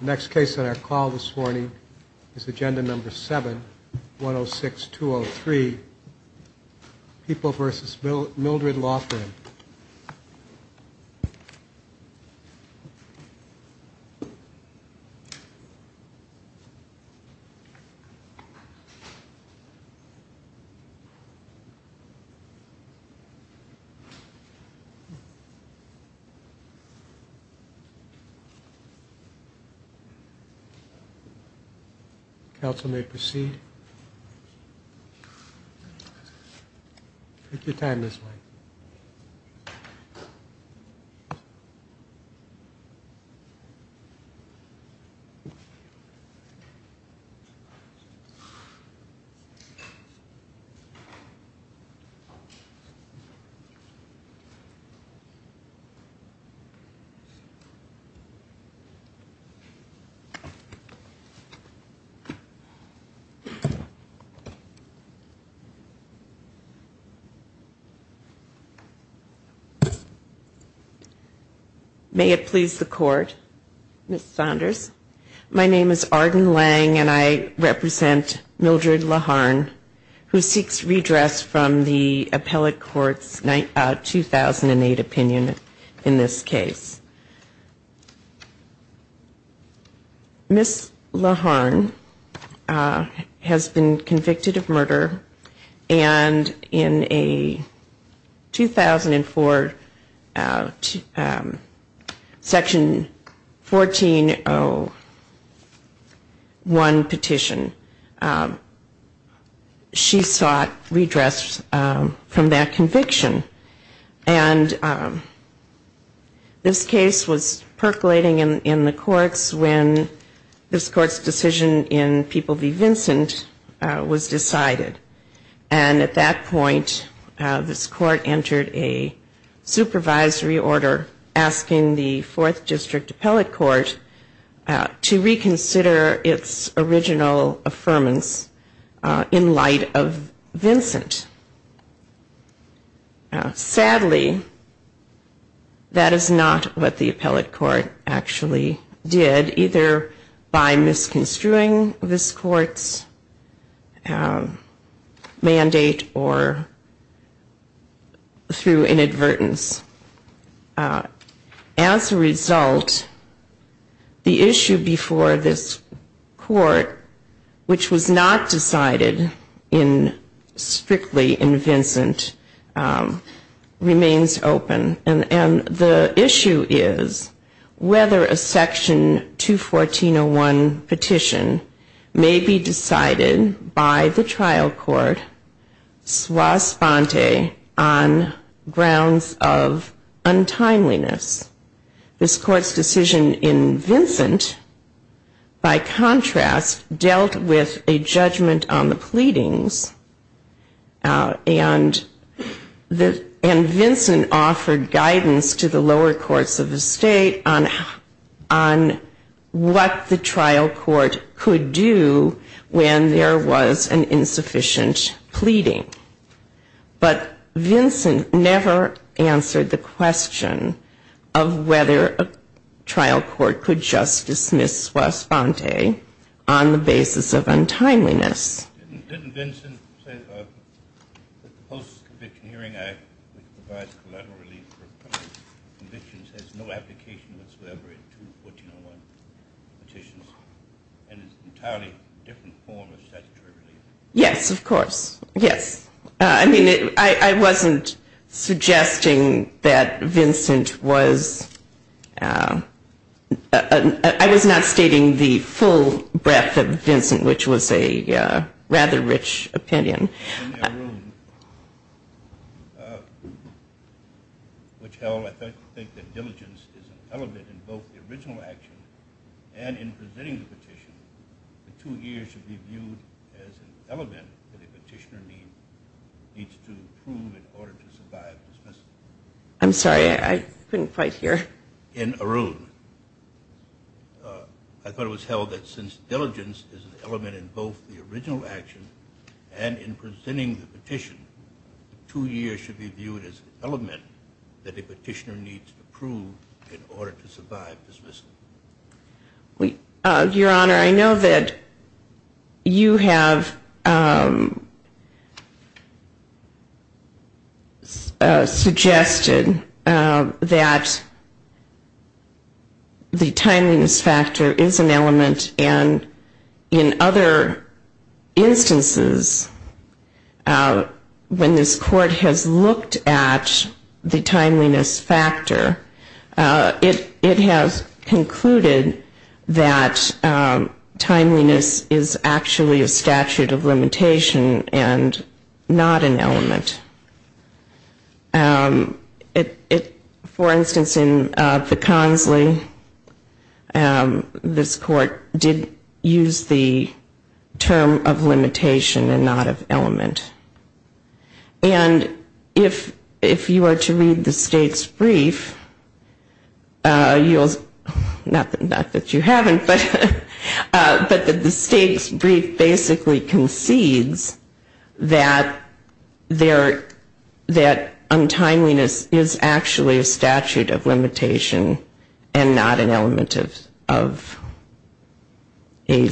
Next case on our call this morning is Agenda No. 7, 106203, People v. Mildred Laugharn. Council may proceed. Arden Lang May it please the Court, Ms. Saunders. My name is Arden Lang, and I represent Mildred Laugharn, who seeks redress from the Appellate Court's 2008 opinion in this case. Ms. Laugharn has been convicted of murder, and in a 2004 Section 1401 petition, she sought redress from that conviction. And this case was percolating in the courts when this Court's decision in People v. Vincent was decided. And at that point, this Court entered a supervisory order asking the 4th District Appellate Court to reconsider its original affirmance in light of Vincent. Sadly, that is not what the Appellate Court actually did, either by misconstruing this Court's mandate or through inadvertence. As a result, the issue before this Court, which was not decided strictly in Vincent, remains open. And the issue is whether a Section 21401 petition may be decided by the trial court, sua sponte, on grounds of untimeliness. This Court's decision in Vincent, by contrast, dealt with a judgment on the pleadings, and Vincent offered guidance to the lower courts of the state on what the trial court could do when there was an insufficient pleading. But Vincent never answered the question of whether a trial court could just dismiss sua sponte on the basis of untimeliness. Didn't Vincent say that the Post-Conviction Hearing Act, which provides collateral relief for convictions, has no application whatsoever to 1401 petitions and is an entirely different form of statutory relief? Yes, of course. Yes. I mean, I wasn't suggesting that Vincent was – I was not stating the full breadth of Vincent, which was a rather rich opinion. In their ruling, which held, I think, that diligence is an element in both the original action and in presenting the petition, the two years should be viewed as an element that a petitioner needs to prove in order to survive dismissal. I'm sorry, I couldn't quite hear. In Arun, I thought it was held that since diligence is an element in both the original action and in presenting the petition, the two years should be viewed as an element that a petitioner needs to prove in order to survive dismissal. Your Honor, I know that you have suggested that the timeliness factor is an element and in other instances when this Court has looked at the timeliness factor, it has concluded that timeliness is actually a statute of limitation and not an element. For instance, in the Consley, this Court did use the term of limitation and not of element. And if you are to read the State's brief, not that you haven't, but the State's brief basically concedes that untimeliness is actually a statute of limitation and not an element of a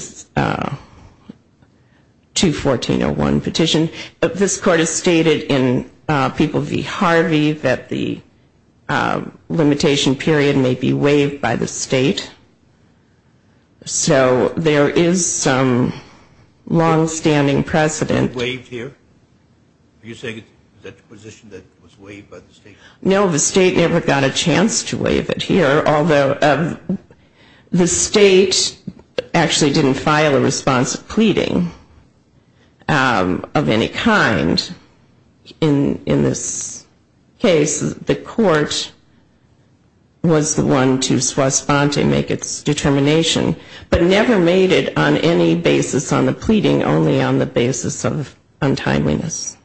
214.01 petition. This Court has stated in People v. Harvey that the limitation period may be waived by the State. So there is some longstanding precedent. Is it waived here? Are you saying that the position that it was waived by the State? No, the State never got a chance to waive it here, although the State actually didn't file a response of pleading of any kind in this case. The Court was the one to swastante, make its determination, but never made it on any basis on the pleading, only on the basis of untimeliness.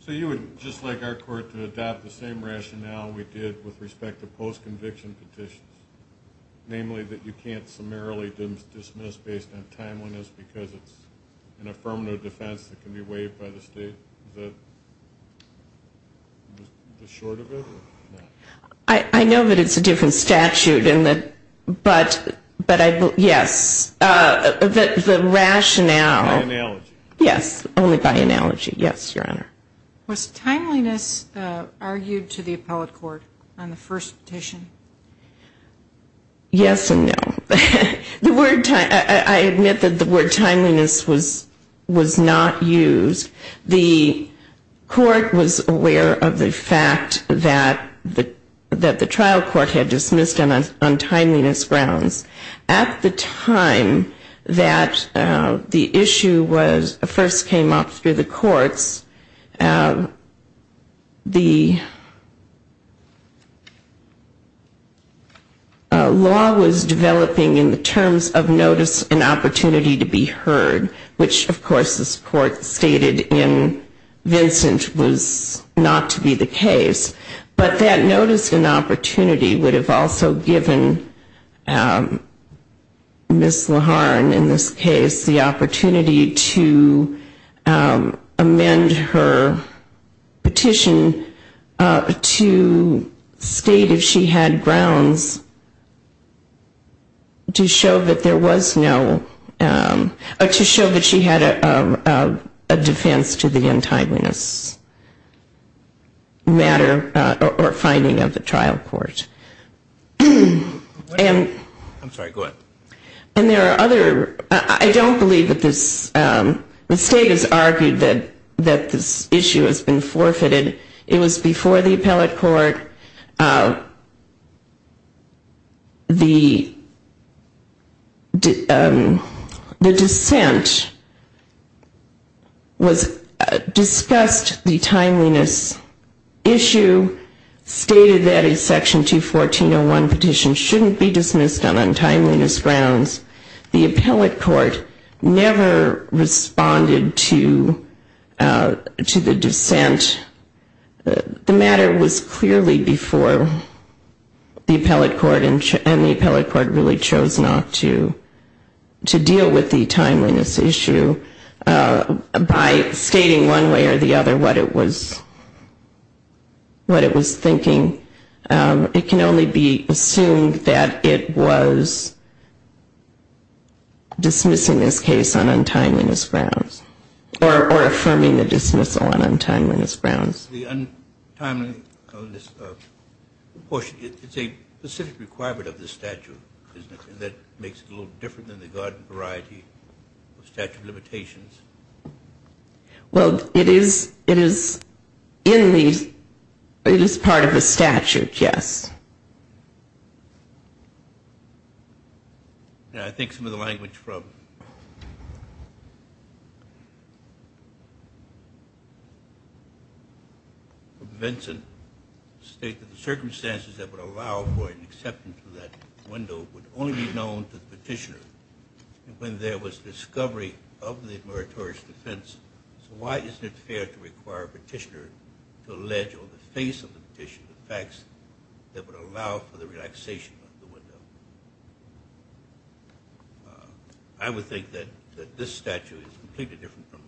So you would just like our Court to adopt the same rationale we did with respect to post-conviction petitions, namely that you can't summarily dismiss based on timeliness because it's an affirmative defense that can be waived by the State? Is that the short of it? I know that it's a different statute, but yes. The rationale. By analogy. Yes, only by analogy. Yes, Your Honor. Was timeliness argued to the appellate court on the first petition? Yes and no. I admit that the word timeliness was not used. The Court was aware of the fact that the trial court had dismissed on timeliness grounds. At the time that the issue first came up through the courts, the law was developing in the terms of notice and opportunity to be heard, which, of course, this Court stated in Vincent was not to be the case. But that notice and opportunity would have also given Ms. Laharn, in this case, the opportunity to amend her petition to state if she had grounds to show that there was no, to show that she had a defense to the untimeliness matter or finding of the trial court. I'm sorry, go ahead. And there are other, I don't believe that this, the State has argued that this issue has been forfeited. It was before the appellate court. The dissent was discussed the timeliness issue, stated that a Section 214.01 petition shouldn't be dismissed on untimeliness grounds. The appellate court never responded to the dissent. The matter was clearly before the appellate court, and the appellate court really chose not to deal with the timeliness issue by stating one way or the other what it was thinking. It can only be assumed that it was dismissing this case on untimeliness grounds or affirming the dismissal on untimeliness grounds. The untimeliness portion, it's a specific requirement of the statute, isn't it, that makes it a little different than the garden variety of statute of limitations? Well, it is in the, it is part of the statute, yes. Yeah, I think some of the language from Vincent states that the circumstances that would allow for an acceptance of that window would only be known to the petitioner. And when there was discovery of the moratorious defense, so why isn't it fair to require a petitioner to allege on the face of the petition the facts that would allow for the relaxation of the window? I would think that this statute is completely different from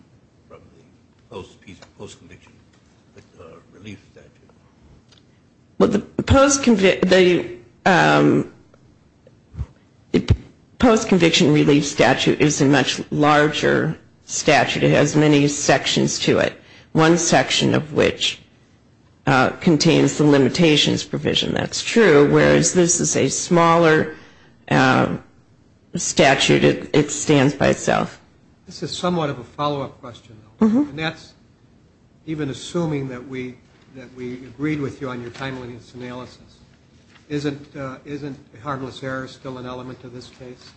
the post-conviction relief statute. Well, the post-conviction relief statute is a much larger statute. It has many sections to it, one section of which contains the limitations provision. That's true, whereas this is a smaller statute. It stands by itself. This is somewhat of a follow-up question, though, and that's even assuming that we agreed with you on your timeliness analysis. Isn't harmless error still an element to this case?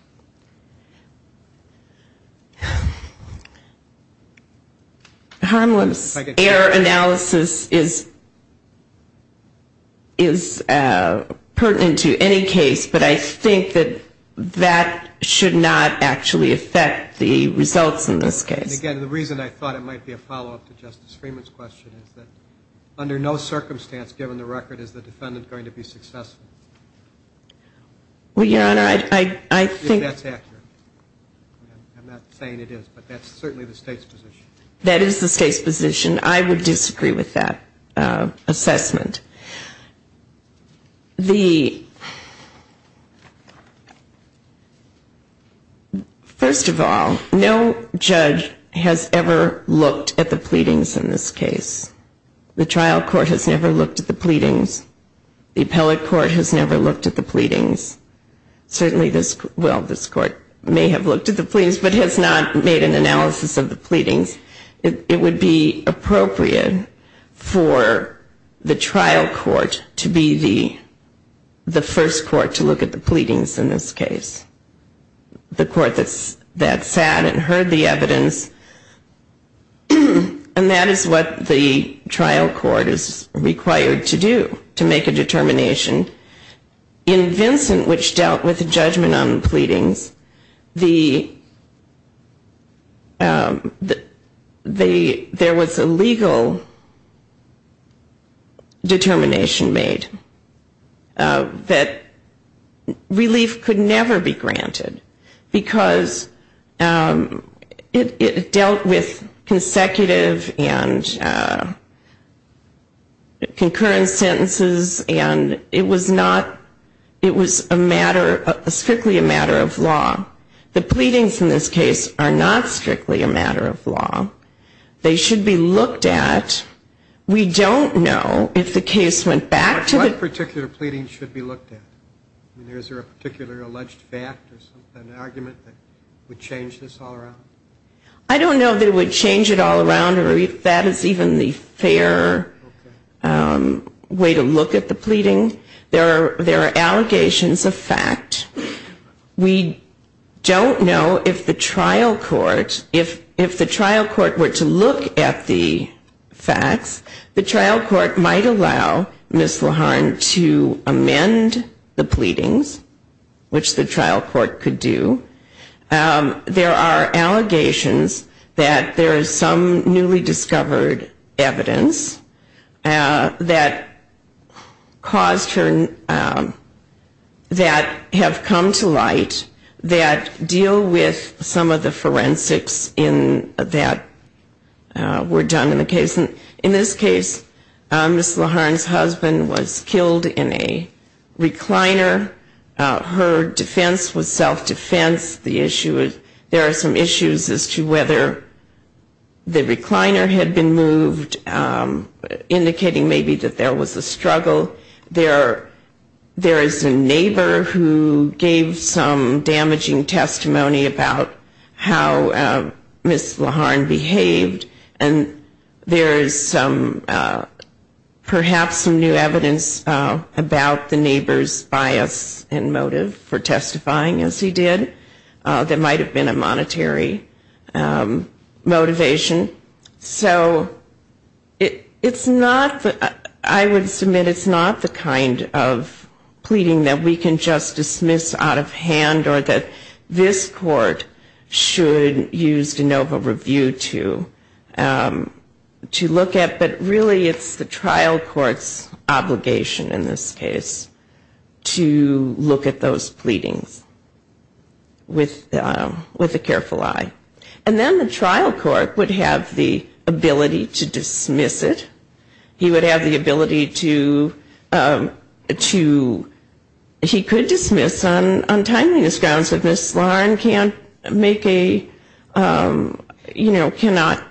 Harmless error analysis is pertinent to any case, but I think that that should not actually affect the results in this case. Again, the reason I thought it might be a follow-up to Justice Freeman's question is that under no circumstance, given the record, is the defendant going to be successful. Well, Your Honor, I think that's accurate. I'm not saying it is, but that's certainly the State's position. That is the State's position. I would disagree with that assessment. First of all, no judge has ever looked at the pleadings in this case. The trial court has never looked at the pleadings. The appellate court has never looked at the pleadings. Certainly this court may have looked at the pleadings, but has not made an analysis of the pleadings. It would be appropriate for the trial court to be the first court to look at the pleadings in this case, the court that sat and heard the evidence, and that is what the trial court is required to do to make a determination. In Vincent, which dealt with the judgment on the pleadings, there was a legal determination made that relief could never be granted, because it dealt with consecutive and concurrent sentences, and it was strictly a matter of law. The pleadings in this case are not strictly a matter of law. They should be looked at. We don't know if the case went back to the... What particular pleadings should be looked at? Is there a particular alleged fact or an argument that would change this all around? I don't know if it would change it all around or if that is even the fair way to look at the pleading. There are allegations of fact. We don't know if the trial court were to look at the facts, the trial court might allow Ms. Laharn to amend the pleadings, which the trial court could do. There are allegations that there is some newly discovered evidence that caused her... that have come to light that deal with some of the forensics that were done in the case. In this case, Ms. Laharn's husband was killed in a recliner. Her defense was self-defense. There are some issues as to whether the recliner had been moved, indicating maybe that there was a struggle. There is a neighbor who gave some damaging testimony about how Ms. Laharn behaved, and there is perhaps some new evidence about the neighbor's bias and motive for testifying, as he did. There might have been a monetary motivation. So it's not... I would submit it's not the kind of pleading that we can just dismiss out of hand or that this court should use de novo review to look at, but really it's the trial court's obligation in this case to look at those pleadings with a careful eye. And then the trial court would have the ability to dismiss it. He would have the ability to... Ms. Laharn can't make a, you know, cannot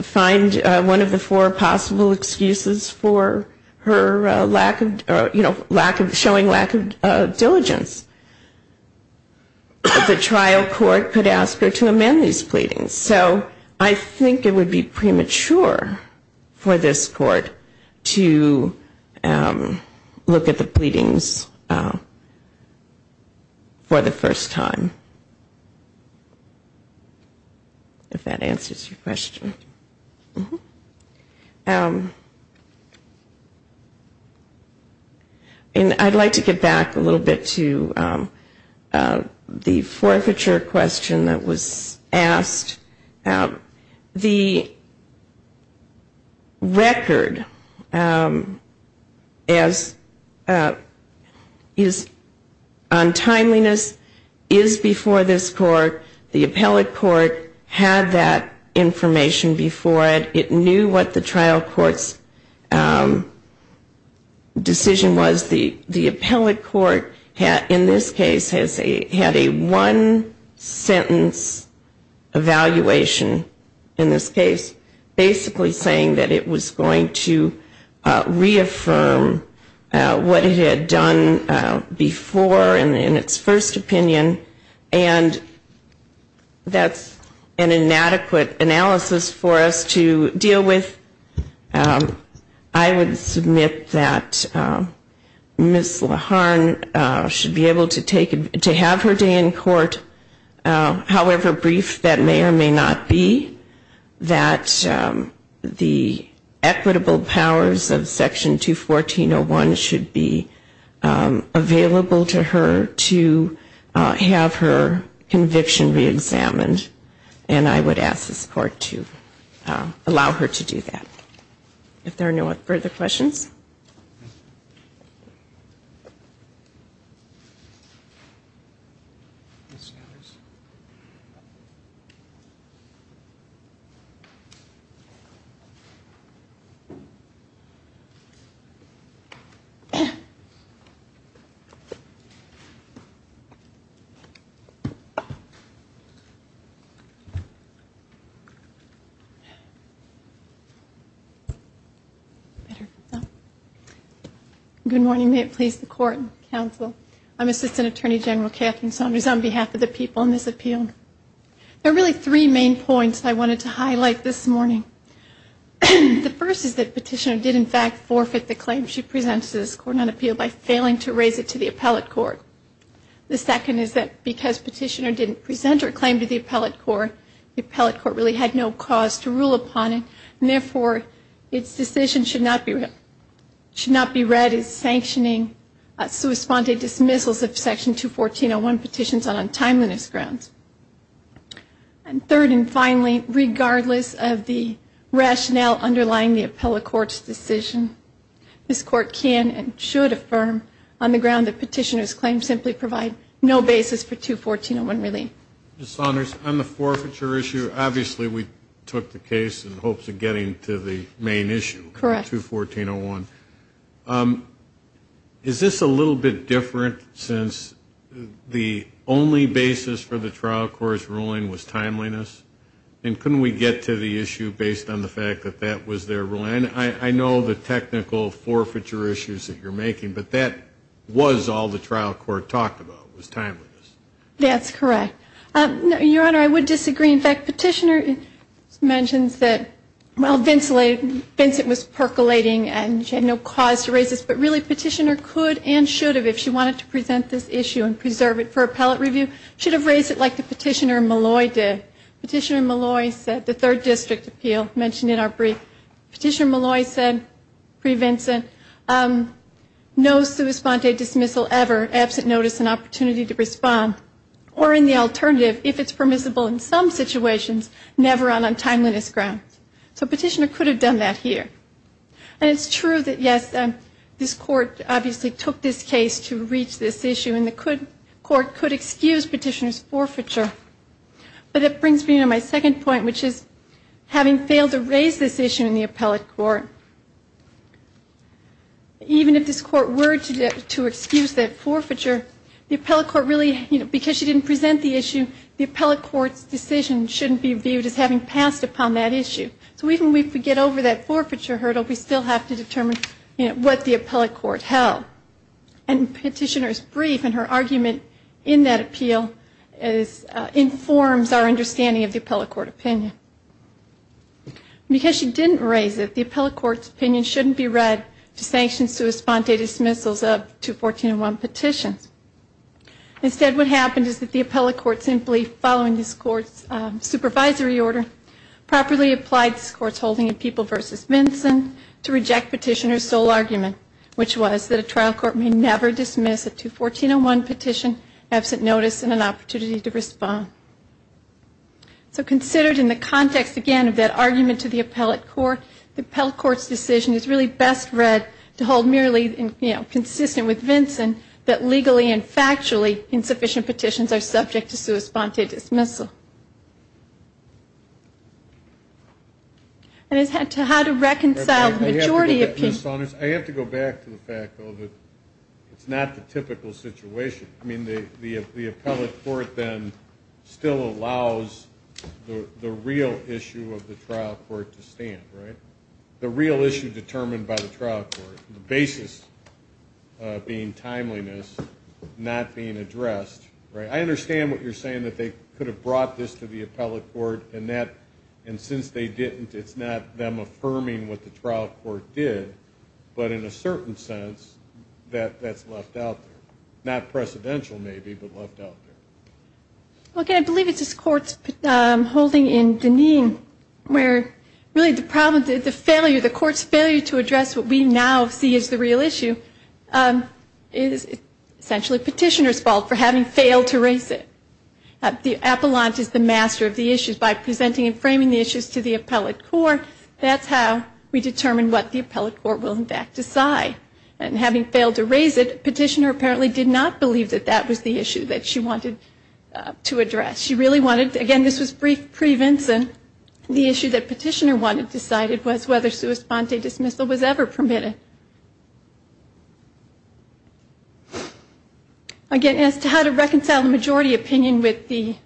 find one of the four possible excuses for her lack of, you know, showing lack of diligence. The trial court could ask her to amend these pleadings. So I think it would be premature for this court to look at the pleadings for the first time. If that answers your question. And I'd like to get back a little bit to the forfeiture question that was asked. The record is on timeliness, and the record is on time. The record is before this court. The appellate court had that information before it. It knew what the trial court's decision was. The appellate court in this case had a one-sentence evaluation in this case, basically saying that it was going to reaffirm what it had done before in its first opinion. And that's an inadequate analysis for us to deal with. I would submit that Ms. Laharn should be able to have her day in court, however brief that may or may not be, that the equitable powers of Section 214.01 should be available to her to have her conviction reexamined. And I would ask this court to allow her to do that. If there are no further questions. Thank you. Good morning. May it please the court and counsel, I'm Assistant Attorney General Katherine Saunders on behalf of the people in this appeal. There are really three main points I wanted to highlight this morning. The first is that Petitioner did in fact forfeit the claim she presents to this court on appeal by failing to raise it to the appellate court. The second is that because Petitioner didn't present her claim to the appellate court, the appellate court really had no cause to rule upon it, and therefore its decision should not be read as sanctioning sui sponte dismissals of Section 214.01 petitions on untimeliness grounds. And third and finally, regardless of the rationale underlying the appellate court's decision, this court can and should affirm on the ground that Petitioner's claims simply provide no basis for 214.01 relief. Ms. Saunders, on the forfeiture issue, obviously we took the case in hopes of getting to the main issue, 214.01. Is this a little bit different since the only basis for the trial court's ruling was timeliness? And couldn't we get to the issue based on the fact that that was their ruling? I know the technical forfeiture issues that you're making, but that was all the trial court talked about was timeliness. That's correct. Your Honor, I would disagree. In fact, Petitioner mentions that, well, Vincent was percolating and she had no cause to raise this, but really Petitioner could and should have, if she wanted to present this issue and preserve it for appellate review, should have raised it like the Petitioner and Malloy did. Petitioner and Malloy said, the third district appeal mentioned in our brief, Petitioner and Malloy said, pre-Vincent, no sua sponte dismissal ever, absent notice and opportunity to respond. Or in the alternative, if it's permissible in some situations, never on untimeliness grounds. So Petitioner could have done that here. And it's true that, yes, this court obviously took this case to reach this issue, and the court could excuse Petitioner's forfeiture. But it brings me to my second point, which is having failed to raise this issue in the appellate court. Even if this court were to excuse that forfeiture, the appellate court really, because she didn't present the issue, the appellate court's decision shouldn't be viewed as having passed upon that issue. So even if we get over that forfeiture hurdle, we still have to determine what the appellate court held. And Petitioner's brief and her argument in that appeal informs our understanding of the appellate court opinion. Because she didn't raise it, the appellate court's opinion shouldn't be read to sanction sua sponte dismissals of 214.01 petitions. Instead, what happened is that the appellate court, simply following this court's supervisory order, properly applied this court's holding in People v. Vincent to reject Petitioner's sole argument, which was that a trial court may never dismiss a 214.01 petition. So considered in the context, again, of that argument to the appellate court, the appellate court's decision is really best read to hold merely consistent with Vincent that legally and factually insufficient petitions are subject to sua sponte dismissal. And as to how to reconcile the majority of people. I have to go back to the fact, though, that it's not the typical situation. I mean, the appellate court then still allows the real issue of the trial court to stand. The real issue determined by the trial court, the basis being timeliness, not being addressed. I understand what you're saying, that they could have brought this to the appellate court, and since they didn't, it's not them that the trial court did, but in a certain sense, that's left out there. Not precedential, maybe, but left out there. Okay, I believe it's this court's holding in Deneen where really the problem, the failure, the court's failure to address what we now see as the real issue is essentially Petitioner's fault for having failed to raise it. The appellant is the master of the issues by presenting and framing the issues to the appellate court. That's how we determine what the appellate court will, in fact, decide. And having failed to raise it, Petitioner apparently did not believe that that was the issue that she wanted to address. She really wanted, again, this was brief pre-Vinson, the issue that Petitioner wanted decided was whether sua sponte dismissal was ever permitted. Again, as to how to reconcile the majority opinion with the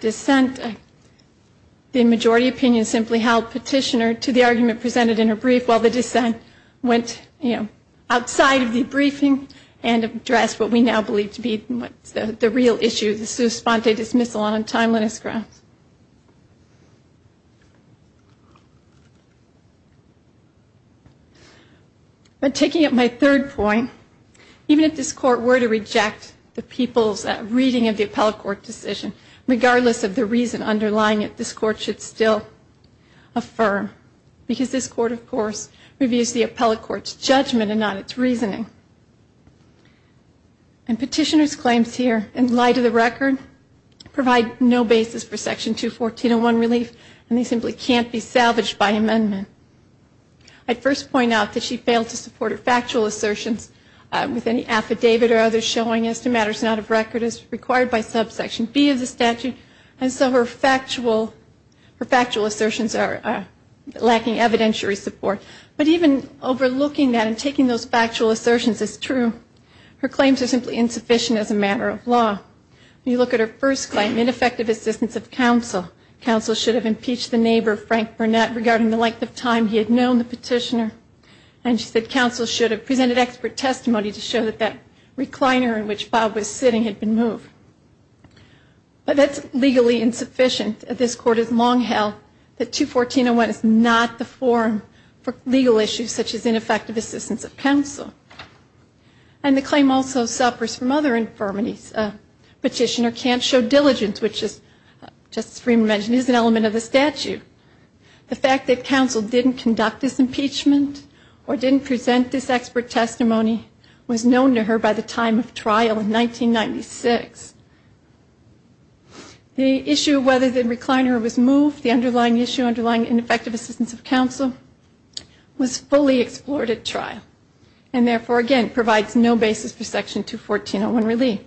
dissent, the majority opinion simply has to be how Petitioner, to the argument presented in her brief, while the dissent went outside of the briefing and addressed what we now believe to be the real issue, the sua sponte dismissal on timeliness grounds. But taking up my third point, even if this court were to reject the people's reading of the appellate court decision, regardless of the reason underlying it, this court should still affirm. Because this court, of course, reviews the appellate court's judgment and not its reasoning. And Petitioner's claims here, in light of the record, provide no basis for Section 214.01 relief, and they simply can't be salvaged by amendment. I'd first point out that she failed to support her factual assertions with any affidavit or others showing as to matters not of record as required by Subsection B of the statute, and so her factual assertions are lacking evidentiary support. But even overlooking that and taking those factual assertions as true, her claims are simply insufficient as a matter of law. When you look at her first claim, ineffective assistance of counsel, counsel should have impeached the neighbor, Frank Burnett, regarding the length of time he had known the Petitioner. And she said counsel should have presented expert testimony to show that that recliner in which Bob was sitting had been moved. But that's legally insufficient. This court has long held that 214.01 is not the forum for legal issues such as ineffective assistance of counsel. And the claim also suffers from other infirmities. Petitioner can't show diligence, which, as Justice Freeman mentioned, is an element of the statute. The fact that counsel didn't conduct this impeachment or didn't present this expert testimony was known to her by the time of trial in 1996. The issue of whether the recliner was moved, the underlying issue, underlying ineffective assistance of counsel, was fully explored at trial, and therefore, again, provides no basis for Section 214.01 relief.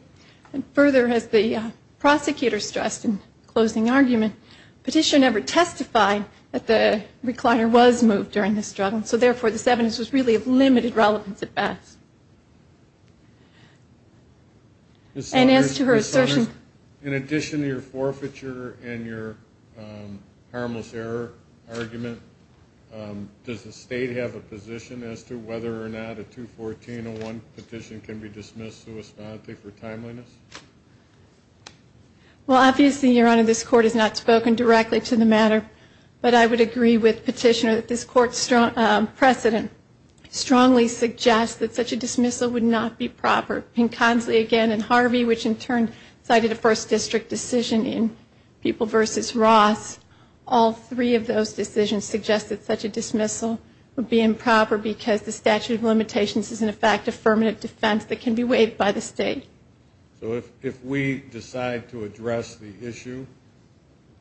And further, as the prosecutor stressed in closing argument, Petitioner never testified that the recliner was moved during this struggle. So therefore, this evidence was really of limited relevance at best. And as to her assertion... In addition to your forfeiture and your harmless error argument, does the state have a position as to whether or not a 214.01 petition can be dismissed for timeliness? Well, obviously, Your Honor, this Court has not spoken directly to the matter, but I would agree with Petitioner that this Court's precedent strongly suggests that such a dismissal would not be proper. Pinconsley, again, and Harvey, which in turn cited a First District decision in People v. Ross, all three of those decisions suggest that such a dismissal would be improper because the statute of limitations is, in effect, a deferment of defense that can be waived by the state. So if we decide to address the issue,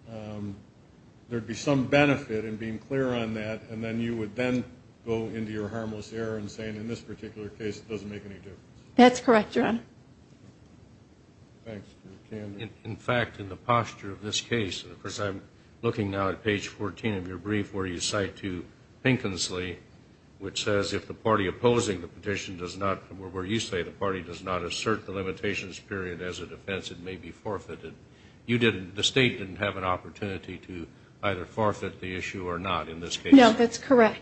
there would be some benefit in being clear on that, and then you would then go into your harmless error and say, in this particular case, it doesn't make any difference? That's correct, Your Honor. In fact, in the posture of this case, of course, I'm looking now at page 14 of your brief where you cite to Pinconsley, which says, if the party opposing the petition does not, or where you say the party does not assert the limitations period as a defense, it may be forfeited. You didn't, the state didn't have an opportunity to either forfeit the issue or not in this case. No, that's correct.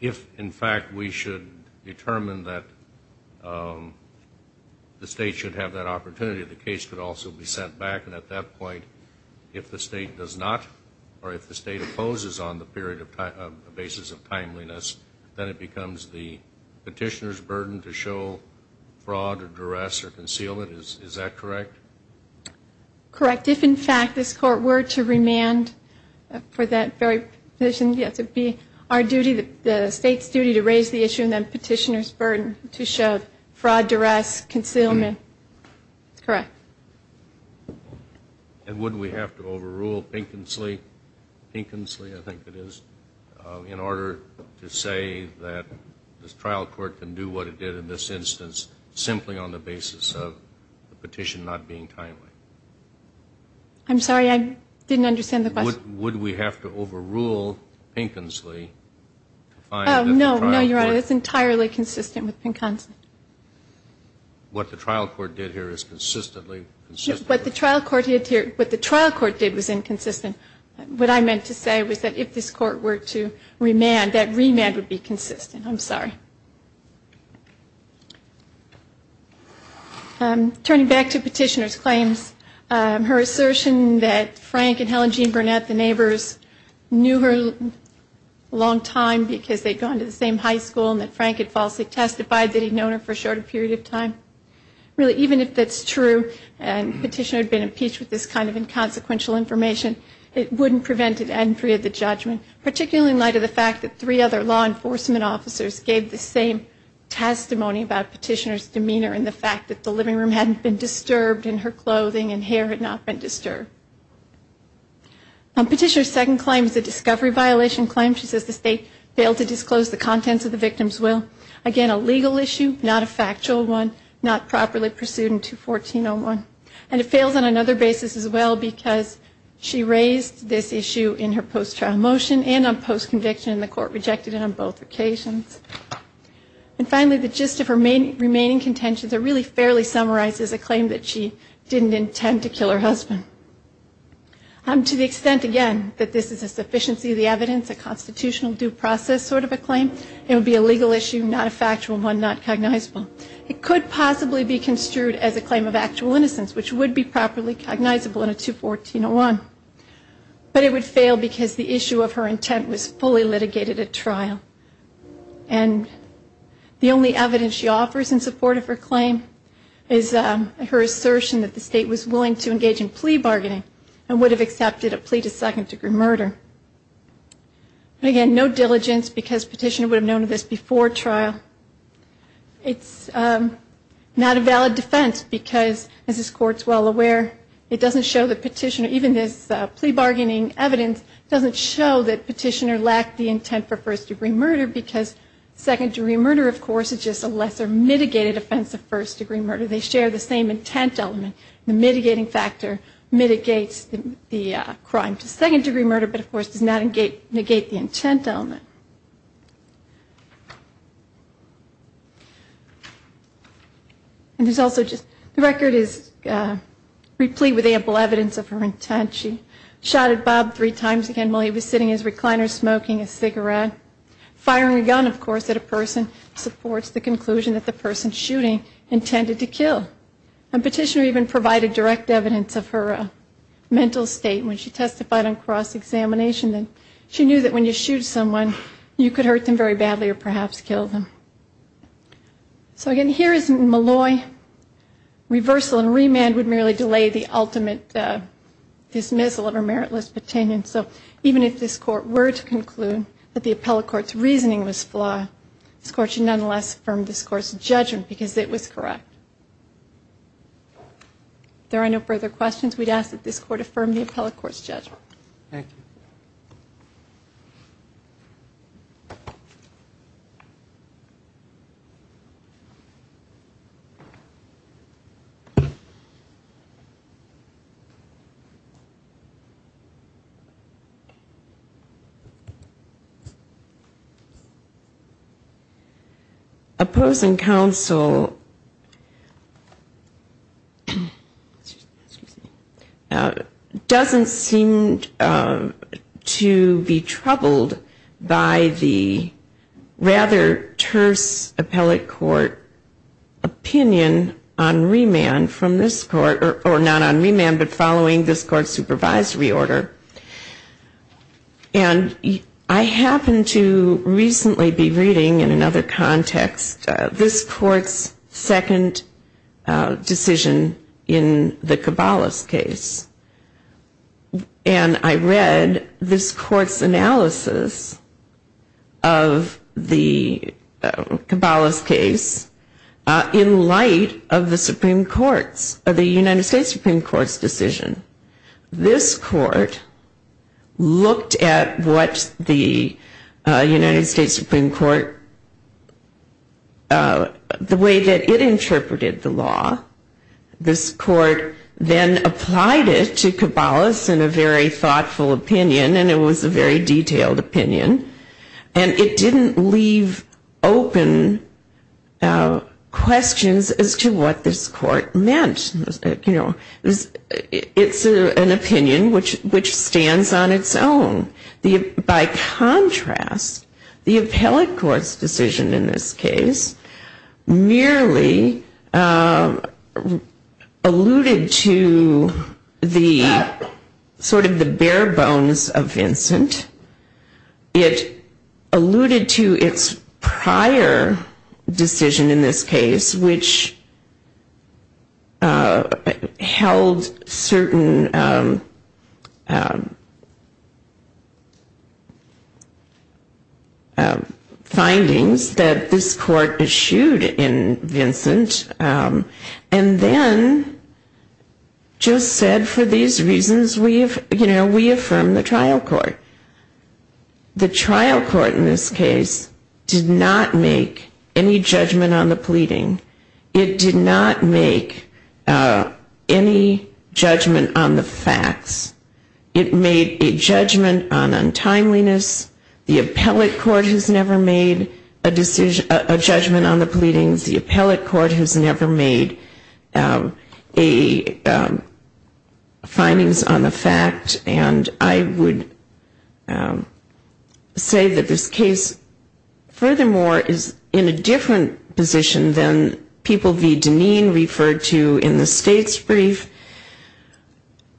If, in fact, we should determine that the state should have that opportunity, the case could also be sent back, and at that point, if the state does not, or if the state opposes on the basis of timeliness, then it becomes the petitioner's burden to show fraud or duress or concealment. Is that correct? Correct. If, in fact, this Court were to remand for that very petition, yes, it would be our duty, the state's duty to raise the issue and then petitioner's burden to show fraud, duress, concealment. That's correct. And wouldn't we have to overrule Pinconsley? Pinconsley, I think it is, in order to say, that this trial court can do what it did in this instance simply on the basis of the petition not being timely. I'm sorry, I didn't understand the question. Would we have to overrule Pinconsley to find that the trial court... Oh, no, no, Your Honor, it's entirely consistent with Pinconsley. What the trial court did here is consistently consistent. What the trial court did here, what the trial court did was inconsistent. What I meant to say was that if this Court were to remand, that remand would be consistent. I'm sorry. Turning back to petitioner's claims, her assertion that Frank and Helen Jean Burnett, the neighbors, knew her a long time because they'd gone to the same high school and that Frank had falsely testified that he'd known her for a shorter period of time. Really, even if that's true and petitioner had been impeached with this kind of inconsequential information, it wouldn't prevent an entry of the judgment, particularly in light of the fact that three other law enforcement officers gave the same testimony about petitioner's demeanor and the fact that the living room hadn't been disturbed and her clothing and hair had not been disturbed. Petitioner's second claim is a discovery violation claim. She says the state failed to disclose the contents of the victim's will. Again, a legal issue, not a factual one, not properly pursued in 214-01. And it fails on another basis as well because she raised this issue in her post-trial motion and on post-conviction and the court rejected it on both occasions. And finally, the gist of her remaining contentions are really fairly summarized as a claim that she didn't intend to kill her husband. To the extent, again, that this is a sufficiency of the evidence, a constitutional due process sort of a claim, it would be a legal issue, not a factual one, not cognizable. It could possibly be construed as a claim of actual innocence, which would be properly cognizable in a 214-01. But it would fail because the issue of her intent was fully litigated at trial. And the only evidence she offers in support of her claim is her assertion that the state was willing to engage in plea bargaining and would have accepted a plea to second-degree murder. Again, no diligence because Petitioner would have known of this before trial. It's not a valid defense because, as this Court is well aware, it doesn't show that Petitioner, even this plea bargaining evidence, doesn't show that Petitioner lacked the intent for first-degree murder because second-degree murder, of course, is just a lesser mitigated offense of first-degree murder. They share the same intent element. The mitigating factor mitigates the crime to second-degree murder but, of course, does not negate the intent element. And there's also just the record is replete with ample evidence of her intent. She shot at Bob three times again while he was sitting in his recliner smoking a cigarette. Firing a gun, of course, at a person supports the conclusion that the person shooting intended to kill. And Petitioner even provided direct evidence of her mental state when she testified on cross-examination that she knew that when you shoot someone, you could hurt them very badly or perhaps kill them. So, again, here is Malloy. Reversal and remand would merely delay the ultimate decision. This Court should nonetheless affirm this Court's judgment because it was correct. If there are no further questions, we'd ask that this Court affirm the appellate court's judgment. Thank you. Opposing counsel doesn't seem to be troubled by the rather terse appellate court opinion on remand from this court, or not on remand but following this Court's supervisory order. And I happened to recently be reading in another context this Court's second decision in the Cabalas case. And I read this Court's analysis of the Cabalas case in light of the Supreme Court's, the United States Supreme Court's decision. This Court looked at what the United States Supreme Court, the way that it interpreted the law. This Court then applied it to Cabalas in a very thoughtful opinion, and it was a very detailed opinion. And it didn't leave open questions as to what this Court meant. It's an opinion which stands on its own. By contrast, the appellate court's decision in this case merely alluded to the sort of the bare bones of Vincent. It alluded to its prior decision in this case, which was a very detailed one. It held certain findings that this Court eschewed in Vincent, and then just said for these reasons we affirm the trial court. The trial court in this case did not make any judgment on the pleading. It did not make any judgment on the facts. It made a judgment on untimeliness. The appellate court has never made a judgment on the pleadings. The appellate court has never made a findings on the fact. And I would say that this case furthermore is in a different position than the trial court. And people v. Deneen referred to in the state's brief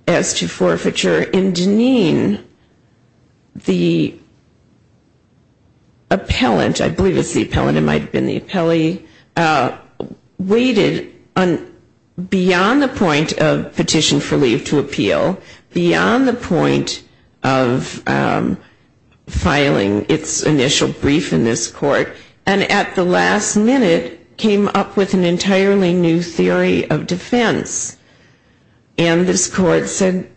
as to forfeiture. In Deneen, the appellant, I believe it's the appellant, it might have been the appellee, waited beyond the point of petition for leave to appeal, beyond the point of filing its initial brief in this court, and at the last minute came up with an entirely new theory of defense. And this court said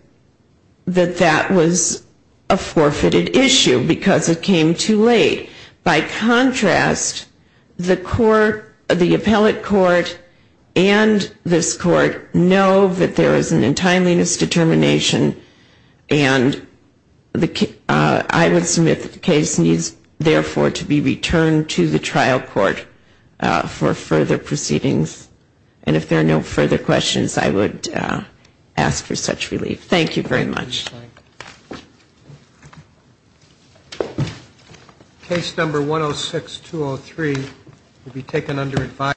that that was a forfeited issue because it came too late. By contrast, the appellate court and this court know that there is an untimeliness determination, and I would submit that the case needs therefore to be returned to the trial court. And if there are no further questions, I would ask for such relief. Thank you very much.